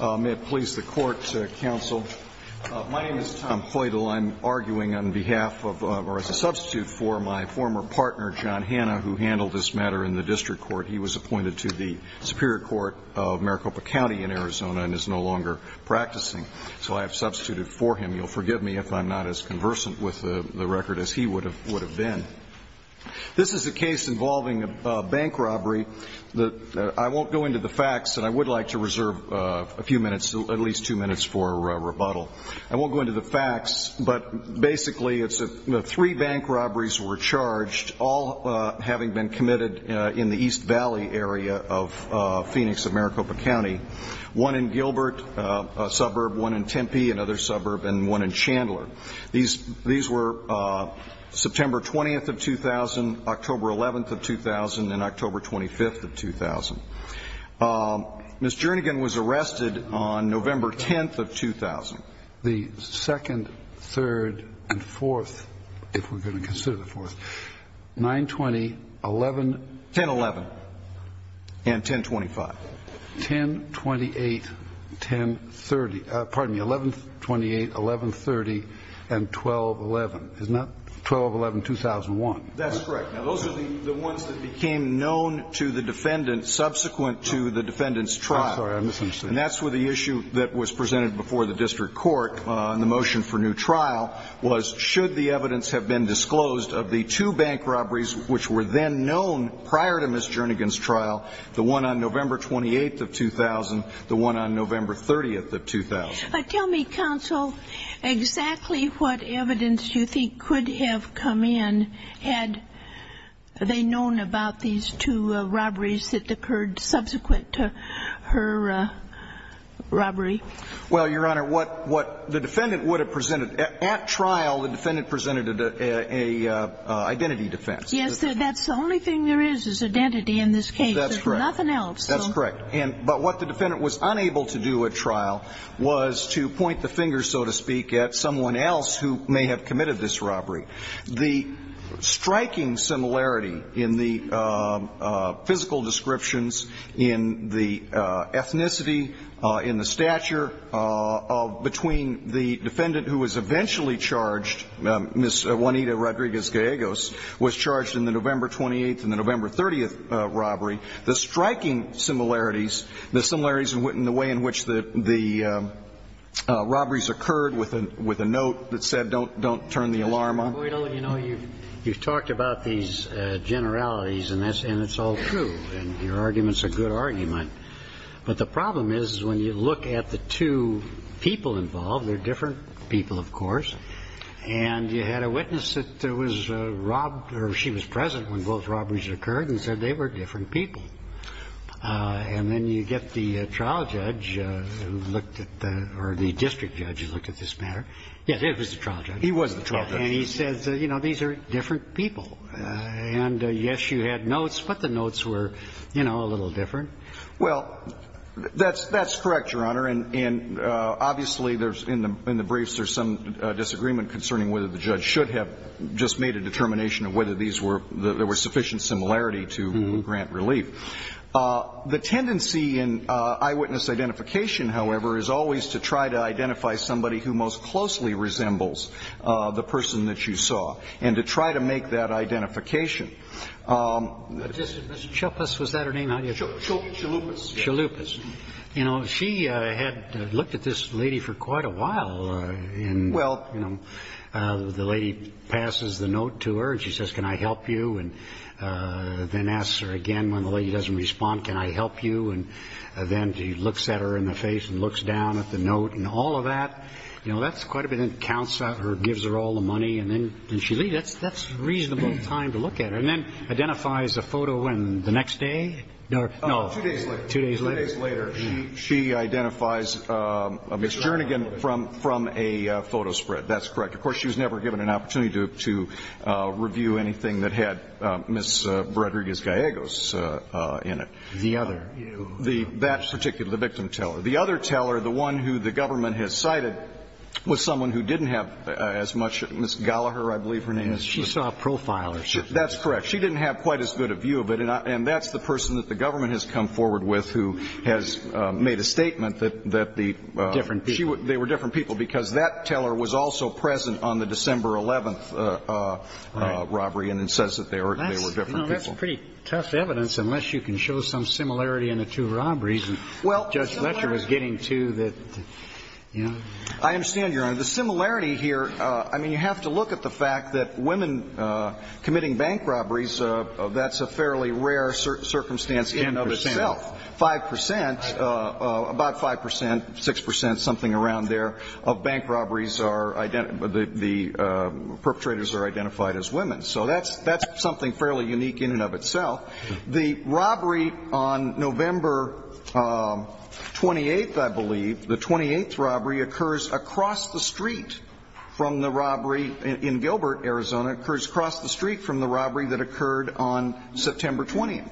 May it please the court, counsel. My name is Tom Ploidal. I'm arguing on behalf of, or as a substitute for, my former partner, John Hanna, who handled this matter in the district court. He was appointed to the Superior Court of Maricopa County in Arizona and is no longer practicing. So I have substituted for him. You'll forgive me if I'm not as conversant with the record as he would have been. This is a case involving a bank robbery. I won't go into the facts, and I would like to reserve a few minutes, at least two minutes, for rebuttal. I won't go into the facts, but basically it's three bank robberies were charged, all having been committed in the East Valley area of Phoenix and Maricopa County, one in Gilbert, a suburb, one in Tempe, another suburb, and one in Chandler. These were September 20th of 2000, October 11th of 2000, and October 25th of 2000. Ms. jernigan was arrested on November 10th of 2000. The second, third, and fourth, if we're going to consider the fourth, 9-20-11. 10-11. And 10-25. 10-28, 10-30. Pardon me, 11-28, 11-30, and 12-11. Isn't that 12-11-2001? That's correct. Now, those are the ones that became known to the defendant subsequent to the defendant's trial. I'm sorry, I misunderstood. And that's where the issue that was presented before the district court in the motion for new trial was should the evidence have been disclosed of the two bank robberies which were then known prior to Ms. jernigan's trial, the one on November 28th of 2000, the one on November 30th of 2000. Tell me, counsel, exactly what evidence you think could have come in had they known about these two robberies that occurred subsequent to her robbery. Well, Your Honor, what the defendant would have presented at trial, the defendant presented an identity defense. Yes, that's the only thing there is, is identity in this case. There's nothing else. That's correct. But what the defendant was unable to do at trial was to point the finger, so to speak, at someone else who may have committed this robbery. The striking similarity in the physical descriptions, in the ethnicity, in the stature between the defendant who was eventually charged, Ms. Juanita Rodriguez Gallegos, was charged in the November 28th and the November 30th robbery. The striking similarities, the similarities in the way in which the robberies occurred with a note that said don't turn the alarm on. Mr. Boydell, you know, you've talked about these generalities, and it's all true, and your argument's a good argument. But the problem is when you look at the two people involved, they're different people, of course, and you had a witness that was robbed or she was present when both robberies occurred and said they were different people. And then you get the trial judge who looked at the or the district judge who looked at this matter. Yes, it was the trial judge. He was the trial judge. And he says, you know, these are different people. And, yes, you had notes, but the notes were, you know, a little different. Well, that's correct, Your Honor. And, obviously, in the briefs, there's some disagreement concerning whether the judge should have just made a determination of whether these were there were sufficient similarity to grant relief. The tendency in eyewitness identification, however, is always to try to identify somebody who most closely resembles the person that you saw and to try to make that identification. Mr. Chalupas, was that her name? Chalupas. Chalupas. You know, she had looked at this lady for quite a while. Well. You know, the lady passes the note to her and she says, can I help you? And then asks her again when the lady doesn't respond, can I help you? And then she looks at her in the face and looks down at the note and all of that. You know, that's quite a bit. Then counts out her, gives her all the money, and then she leaves. That's a reasonable time to look at her. And then identifies a photo and the next day. No, two days later. Two days later, she identifies Ms. Jernigan from a photo spread. That's correct. Of course, she was never given an opportunity to review anything that had Ms. Rodriguez-Gallegos in it. The other. That particular, the victim teller. The other teller, the one who the government has cited, was someone who didn't have as much. Ms. Gallaher, I believe her name is. She saw a profile. That's correct. She didn't have quite as good a view of it. And that's the person that the government has come forward with who has made a statement that the. Different people. They were different people because that teller was also present on the December 11th robbery and then says that they were different people. That's pretty tough evidence unless you can show some similarity in the two robberies that Judge Letcher was getting to. I understand, Your Honor. The similarity here, I mean, you have to look at the fact that women committing bank robberies, that's a fairly rare circumstance in and of itself. 5 percent, about 5 percent, 6 percent, something around there, of bank robberies are, the perpetrators are identified as women. So that's something fairly unique in and of itself. The robbery on November 28th, I believe, the 28th robbery occurs across the street from the robbery in Gilbert, Arizona, occurs across the street from the robbery that occurred on September 20th.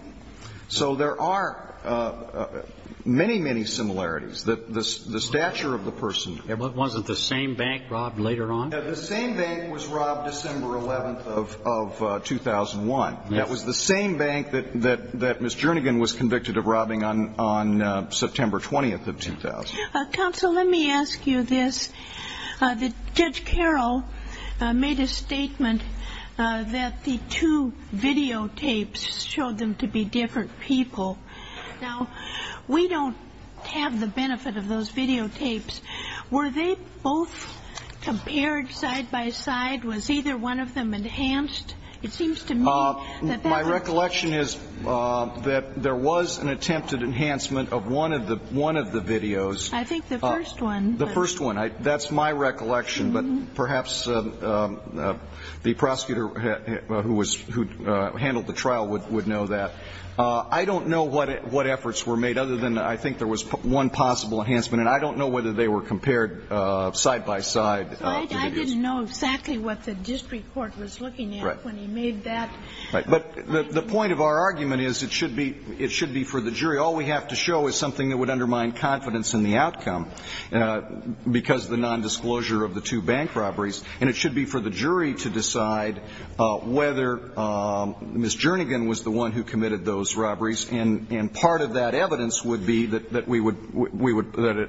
So there are many, many similarities. The stature of the person. Wasn't the same bank robbed later on? The same bank was robbed December 11th of 2001. That was the same bank that Ms. Jernigan was convicted of robbing on September 20th of 2000. Counsel, let me ask you this. Judge Carroll made a statement that the two videotapes showed them to be different people. Now, we don't have the benefit of those videotapes. Were they both compared side by side? Was either one of them enhanced? It seems to me that that was the case. My recollection is that there was an attempted enhancement of one of the videos. I think the first one. The first one. That's my recollection. But perhaps the prosecutor who handled the trial would know that. I don't know what efforts were made other than I think there was one possible enhancement. And I don't know whether they were compared side by side. I didn't know exactly what the district court was looking at when he made that. But the point of our argument is it should be for the jury. All we have to show is something that would undermine confidence in the outcome because of the nondisclosure of the two bank robberies. And it should be for the jury to decide whether Ms. Jernigan was the one who committed those robberies. And part of that evidence would be that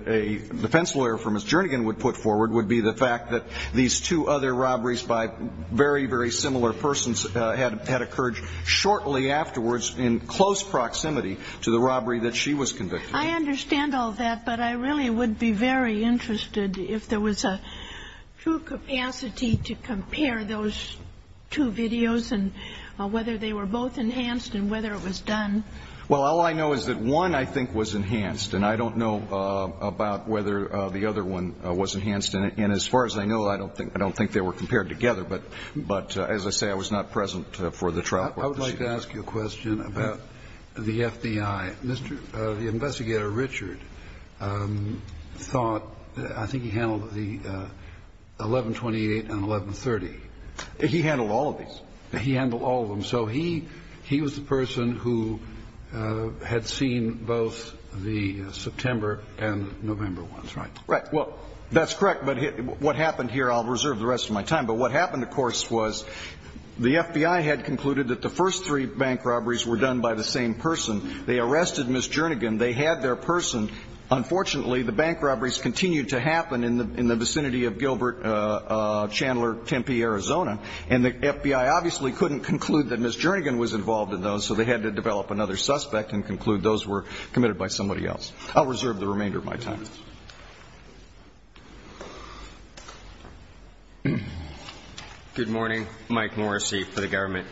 a defense lawyer for Ms. Jernigan would put forward would be the fact that these two other robberies by very, very similar persons had occurred shortly afterwards in close proximity to the robbery that she was convicted of. I understand all that. But I really would be very interested if there was a true capacity to compare those two videos and whether they were both enhanced and whether it was done. Well, all I know is that one, I think, was enhanced. And I don't know about whether the other one was enhanced. And as far as I know, I don't think they were compared together. But as I say, I was not present for the trial court procedure. I would like to ask you a question about the FBI. The investigator, Richard, thought I think he handled the 1128 and 1130. He handled all of these. He handled all of them. So he was the person who had seen both the September and November ones, right? Right. Well, that's correct. But what happened here, I'll reserve the rest of my time. But what happened, of course, was the FBI had concluded that the first three bank robberies were done by the same person. They arrested Ms. Jernigan. They had their person. Unfortunately, the bank robberies continued to happen in the vicinity of Gilbert Chandler Tempe, Arizona. And the FBI obviously couldn't conclude that Ms. Jernigan was involved in those, so they had to develop another suspect and conclude those were committed by somebody else. I'll reserve the remainder of my time. Good morning. Mike Morrissey for the government.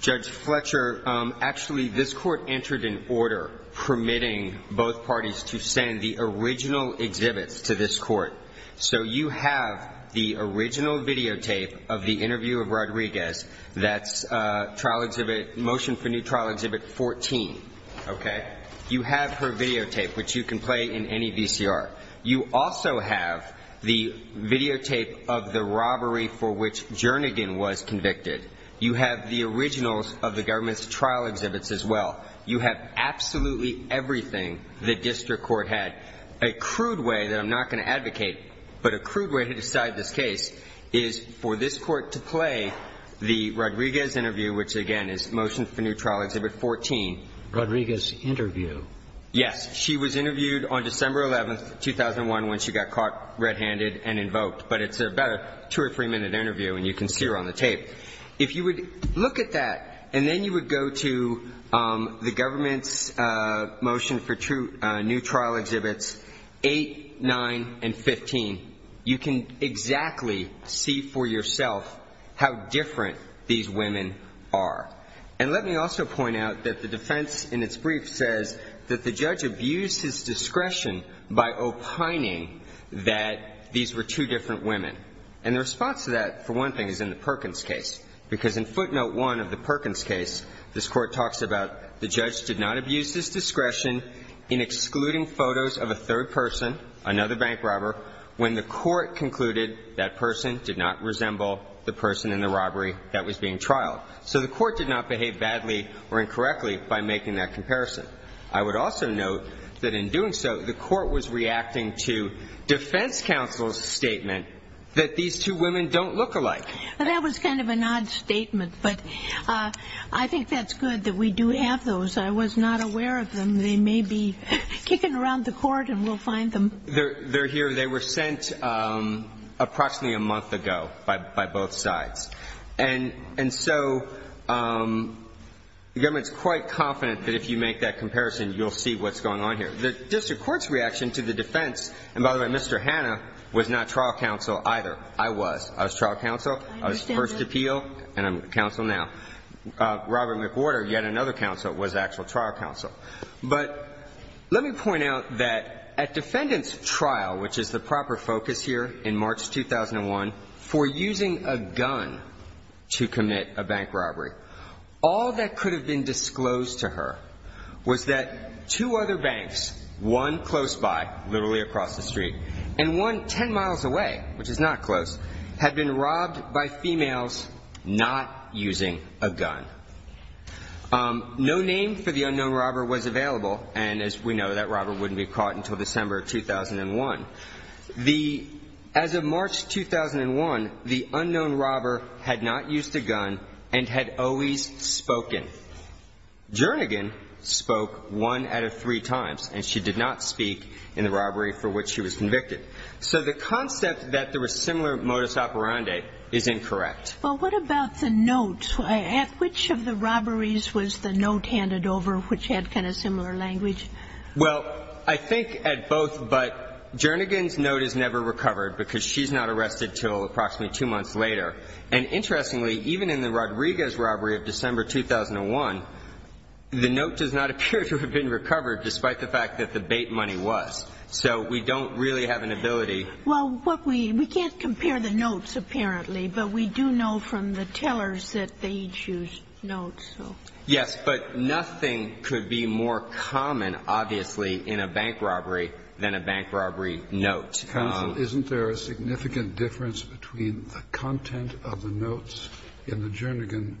Judge Fletcher, actually this court entered an order permitting both parties to send the original exhibits to this court. So you have the original videotape of the interview of Rodriguez. That's trial exhibit, motion for new trial exhibit 14, okay? You have her videotape, which you can play in any VCR. You also have the videotape of the robbery for which Jernigan was convicted. You have the originals of the government's trial exhibits as well. You have absolutely everything the district court had. A crude way that I'm not going to advocate, but a crude way to decide this case, is for this court to play the Rodriguez interview, which, again, is motion for new trial exhibit 14. Rodriguez interview? Yes. She was interviewed on December 11, 2001, when she got caught red-handed and invoked. But it's about a two- or three-minute interview, and you can see her on the tape. If you would look at that, and then you would go to the government's motion for new trial exhibits 8, 9, and 15, you can exactly see for yourself how different these women are. And let me also point out that the defense in its brief says that the judge abused his discretion by opining that these were two different women. And the response to that, for one thing, is in the Perkins case. Because in footnote 1 of the Perkins case, this Court talks about the judge did not abuse his discretion in excluding photos of a third person, another bank robber, when the Court concluded that person did not resemble the person in the robbery that was being trialed. So the Court did not behave badly or incorrectly by making that comparison. I would also note that in doing so, the Court was reacting to defense counsel's statement that these two women don't look alike. That was kind of an odd statement, but I think that's good that we do have those. I was not aware of them. They may be kicking around the Court, and we'll find them. They're here. They were sent approximately a month ago by both sides. And so the government's quite confident that if you make that comparison, you'll see what's going on here. The district court's reaction to the defense, and by the way, Mr. Hanna was not trial counsel either. I was. I was trial counsel. I was first appeal, and I'm counsel now. Robert McWhorter, yet another counsel, was actual trial counsel. But let me point out that at defendant's trial, which is the proper focus here in March 2001, for using a gun to commit a bank robbery, all that could have been disclosed to her was that two other banks, one close by, literally across the street, and one 10 miles away, which is not close, had been robbed by females not using a gun. No name for the unknown robber was available, and as we know, that robber wouldn't be caught until December 2001. As of March 2001, the unknown robber had not used a gun and had always spoken. Jernigan spoke one out of three times, and she did not speak in the robbery for which she was convicted. So the concept that there was similar modus operandi is incorrect. Well, what about the note? At which of the robberies was the note handed over which had kind of similar language? Well, I think at both. But Jernigan's note is never recovered because she's not arrested until approximately two months later. And interestingly, even in the Rodriguez robbery of December 2001, the note does not appear to have been recovered, despite the fact that the bait money was. So we don't really have an ability. Well, we can't compare the notes, apparently, but we do know from the tellers that they each used notes. Yes. But nothing could be more common, obviously, in a bank robbery than a bank robbery note. Counsel, isn't there a significant difference between the content of the notes in the Jernigan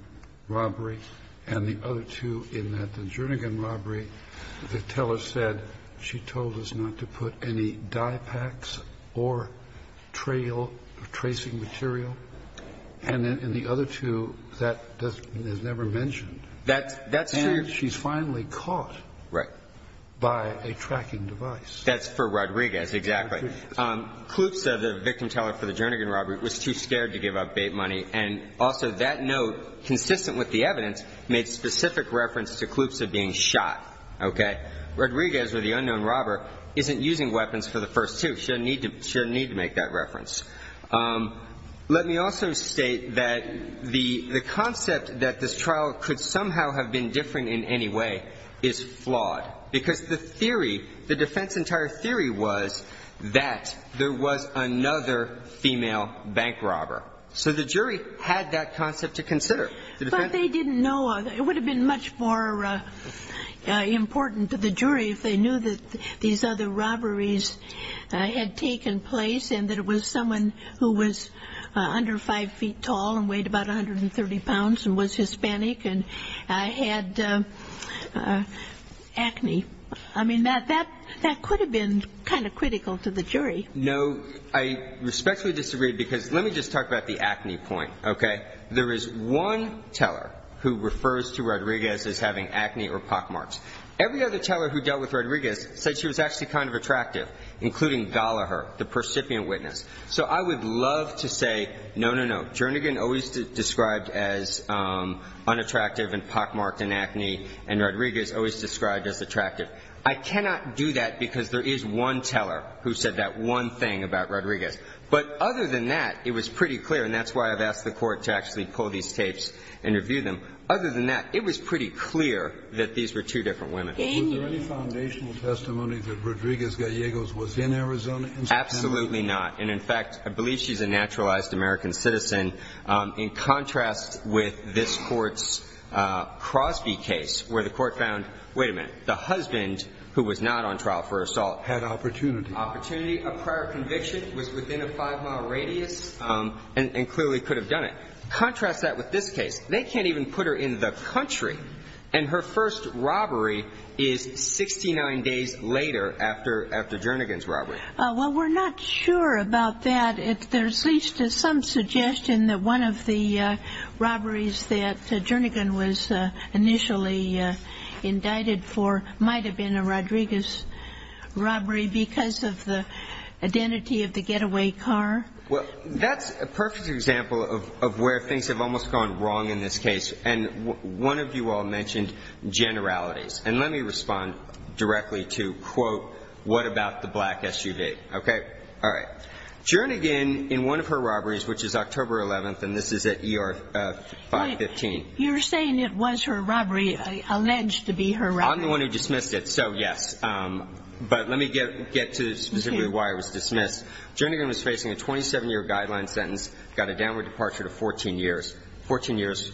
robbery and the other two in that the Jernigan robbery, the teller said she told us not to put any dye packs or trail or tracing material, and in the other two, that is never mentioned? That's true. And she's finally caught. Right. By a tracking device. That's for Rodriguez. Exactly. Klupza, the victim teller for the Jernigan robbery, was too scared to give up bait money. And also that note, consistent with the evidence, made specific reference to Klupza being shot. Okay? Rodriguez, or the unknown robber, isn't using weapons for the first two. She doesn't need to make that reference. Let me also state that the concept that this trial could somehow have been different in any way is flawed, because the theory, the defense's entire theory was that there was another female bank robber. So the jury had that concept to consider. But they didn't know. It would have been much more important to the jury if they knew that these other robberies had taken place and that it was someone who was under 5 feet tall and weighed about 130 pounds and was Hispanic and had acne. I mean, that could have been kind of critical to the jury. No. I respectfully disagree, because let me just talk about the acne point. Okay? There is one teller who refers to Rodriguez as having acne or pockmarks. Every other teller who dealt with Rodriguez said she was actually kind of attractive, including Gallaher, the percipient witness. So I would love to say, no, no, no. Jernigan always described as unattractive and pockmarked and acne, and Rodriguez always described as attractive. I cannot do that, because there is one teller who said that one thing about Rodriguez. But other than that, it was pretty clear, and that's why I've asked the Court to actually pull these tapes and review them. Other than that, it was pretty clear that these were two different women. Daniel. Was there any foundational testimony that Rodriguez-Gallegos was in Arizona? Absolutely not. And, in fact, I believe she's a naturalized American citizen. In contrast with this Court's Crosby case, where the Court found, wait a minute, the husband, who was not on trial for assault. Had opportunity. Opportunity. A prior conviction was within a 5-mile radius and clearly could have done it. Contrast that with this case. They can't even put her in the country, and her first robbery is 69 days later after Jernigan's robbery. Well, we're not sure about that. There's at least some suggestion that one of the robberies that Jernigan was initially indicted for might have been a Rodriguez robbery because of the identity of the getaway car. Well, that's a perfect example of where things have almost gone wrong in this case. And one of you all mentioned generalities. And let me respond directly to, quote, what about the black SUV. Okay? All right. Jernigan, in one of her robberies, which is October 11th, and this is at ER 515. You're saying it was her robbery, alleged to be her robbery. I'm the one who dismissed it, so yes. But let me get to specifically why it was dismissed. Jernigan was facing a 27-year guideline sentence, got a downward departure to 14 years. Fourteen years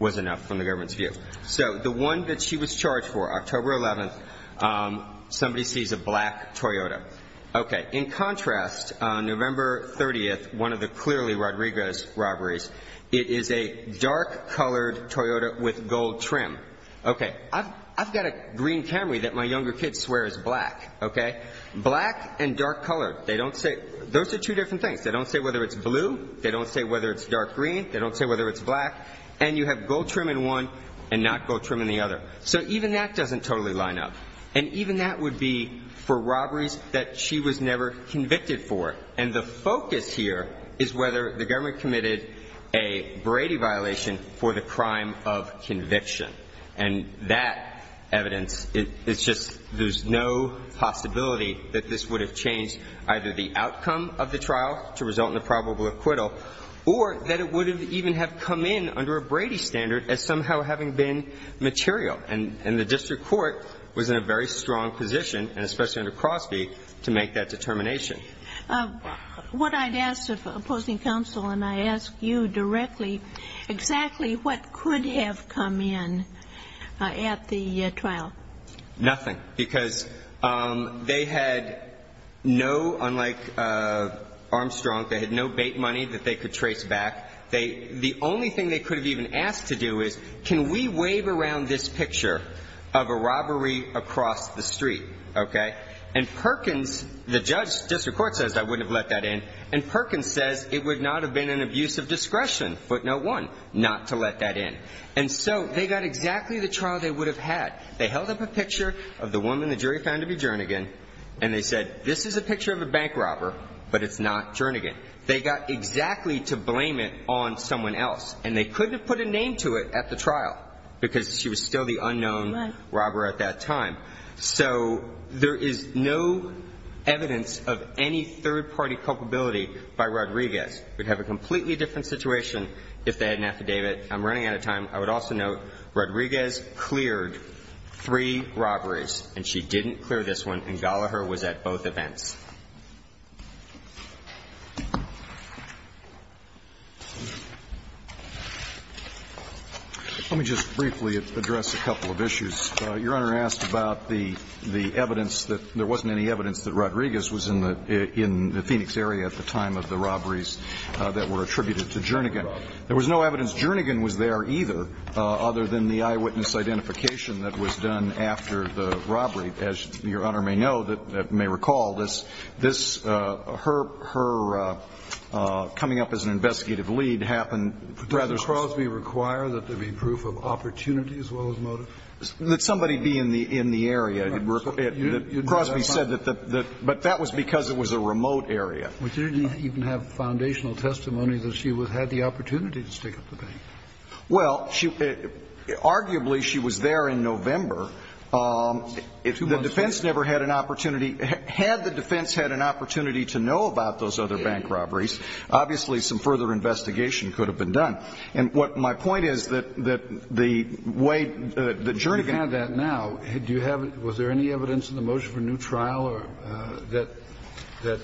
was enough from the government's view. So the one that she was charged for, October 11th, somebody sees a black Toyota. Okay. In contrast, November 30th, one of the clearly Rodriguez robberies, it is a dark-colored Toyota with gold trim. Okay. I've got a green Camry that my younger kids swear is black. Okay? Black and dark-colored. They don't say. Those are two different things. They don't say whether it's blue. They don't say whether it's dark green. They don't say whether it's black. And you have gold trim in one and not gold trim in the other. So even that doesn't totally line up. And even that would be for robberies that she was never convicted for. And the focus here is whether the government committed a Brady violation for the crime of conviction. And that evidence, it's just there's no possibility that this would have changed either the outcome of the trial to result in a probable acquittal or that it would even have come in under a Brady standard as somehow having been material. And the district court was in a very strong position, and especially under Crosby, to make that determination. What I'd ask of opposing counsel, and I ask you directly, exactly what could have come in at the trial? Nothing. Because they had no, unlike Armstrong, they had no bait money that they could trace back. The only thing they could have even asked to do is, can we wave around this picture of a robbery across the street? Okay? And Perkins, the district court says, I wouldn't have let that in. And Perkins says, it would not have been an abuse of discretion, footnote one, not to let that in. And so they got exactly the trial they would have had. They held up a picture of the woman the jury found to be Jernigan. And they said, this is a picture of a bank robber, but it's not Jernigan. They got exactly to blame it on someone else. And they couldn't have put a name to it at the trial because she was still the unknown robber at that time. So there is no evidence of any third-party culpability by Rodriguez. We'd have a completely different situation if they had an affidavit. I'm running out of time. I would also note Rodriguez cleared three robberies, and she didn't clear this one, and Gallaher was at both events. Let me just briefly address a couple of issues. Your Honor asked about the evidence that there wasn't any evidence that Rodriguez was in the Phoenix area at the time of the robberies that were attributed to Jernigan. There was no evidence Jernigan was there either, other than the eyewitness identification that was done after the robbery. As Your Honor may know, may recall, this her coming up as an investigative lead happened rather soon. So the defense had the opportunity to find out whether the robber was in the area or not. I mean, could Crosby require there be proof of opportunity as well as motive? That somebody be in the area. Crosby said that the – but that was because it was a remote area. But you didn't even have foundational testimony that she had the opportunity to stick up the bank. Well, she – arguably she was there in November. The defense never had an opportunity – had the defense had an opportunity to know about those other bank robberies, obviously some further investigation could have been done. And what my point is that the way – the journey – You have that now. Do you have – was there any evidence in the motion for a new trial that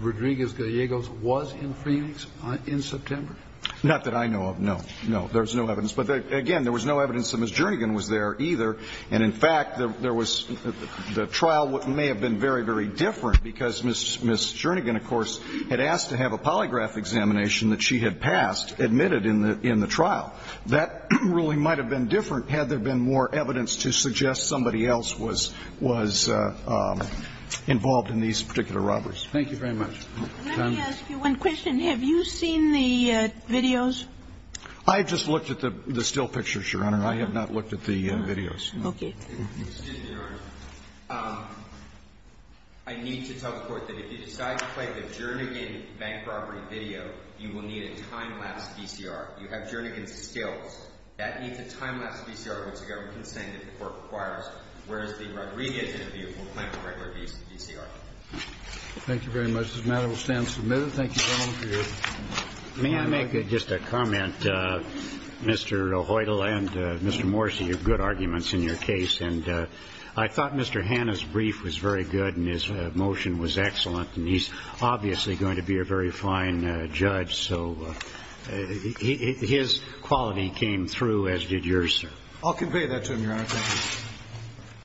Rodriguez-Gallegos was in Phoenix in September? Not that I know of, no. No. There was no evidence. But, again, there was no evidence that Ms. Jernigan was there either. And, in fact, there was – the trial may have been very, very different because Ms. Jernigan, of course, had asked to have a polygraph examination that she had passed, admitted in the trial. That really might have been different had there been more evidence to suggest somebody else was involved in these particular robberies. Thank you very much. Let me ask you one question. Have you seen the videos? I just looked at the still pictures, Your Honor. I have not looked at the videos. Okay. Excuse me, Your Honor. I need to tell the Court that if you decide to play the Jernigan bank robbery video, you will need a time-lapse VCR. You have Jernigan's stills. That needs a time-lapse VCR, which the government can send if the Court requires, whereas the Rodriguez interview will claim a regular VCR. Thank you very much. This matter will stand submitted. Thank you, gentlemen, for your time. May I make just a comment? Mr. Hoytel and Mr. Morsi, you have good arguments in your case. And I thought Mr. Hanna's brief was very good and his motion was excellent, and he's obviously going to be a very fine judge. So his quality came through, as did yours, sir. I'll convey that to him, Your Honor. Thank you.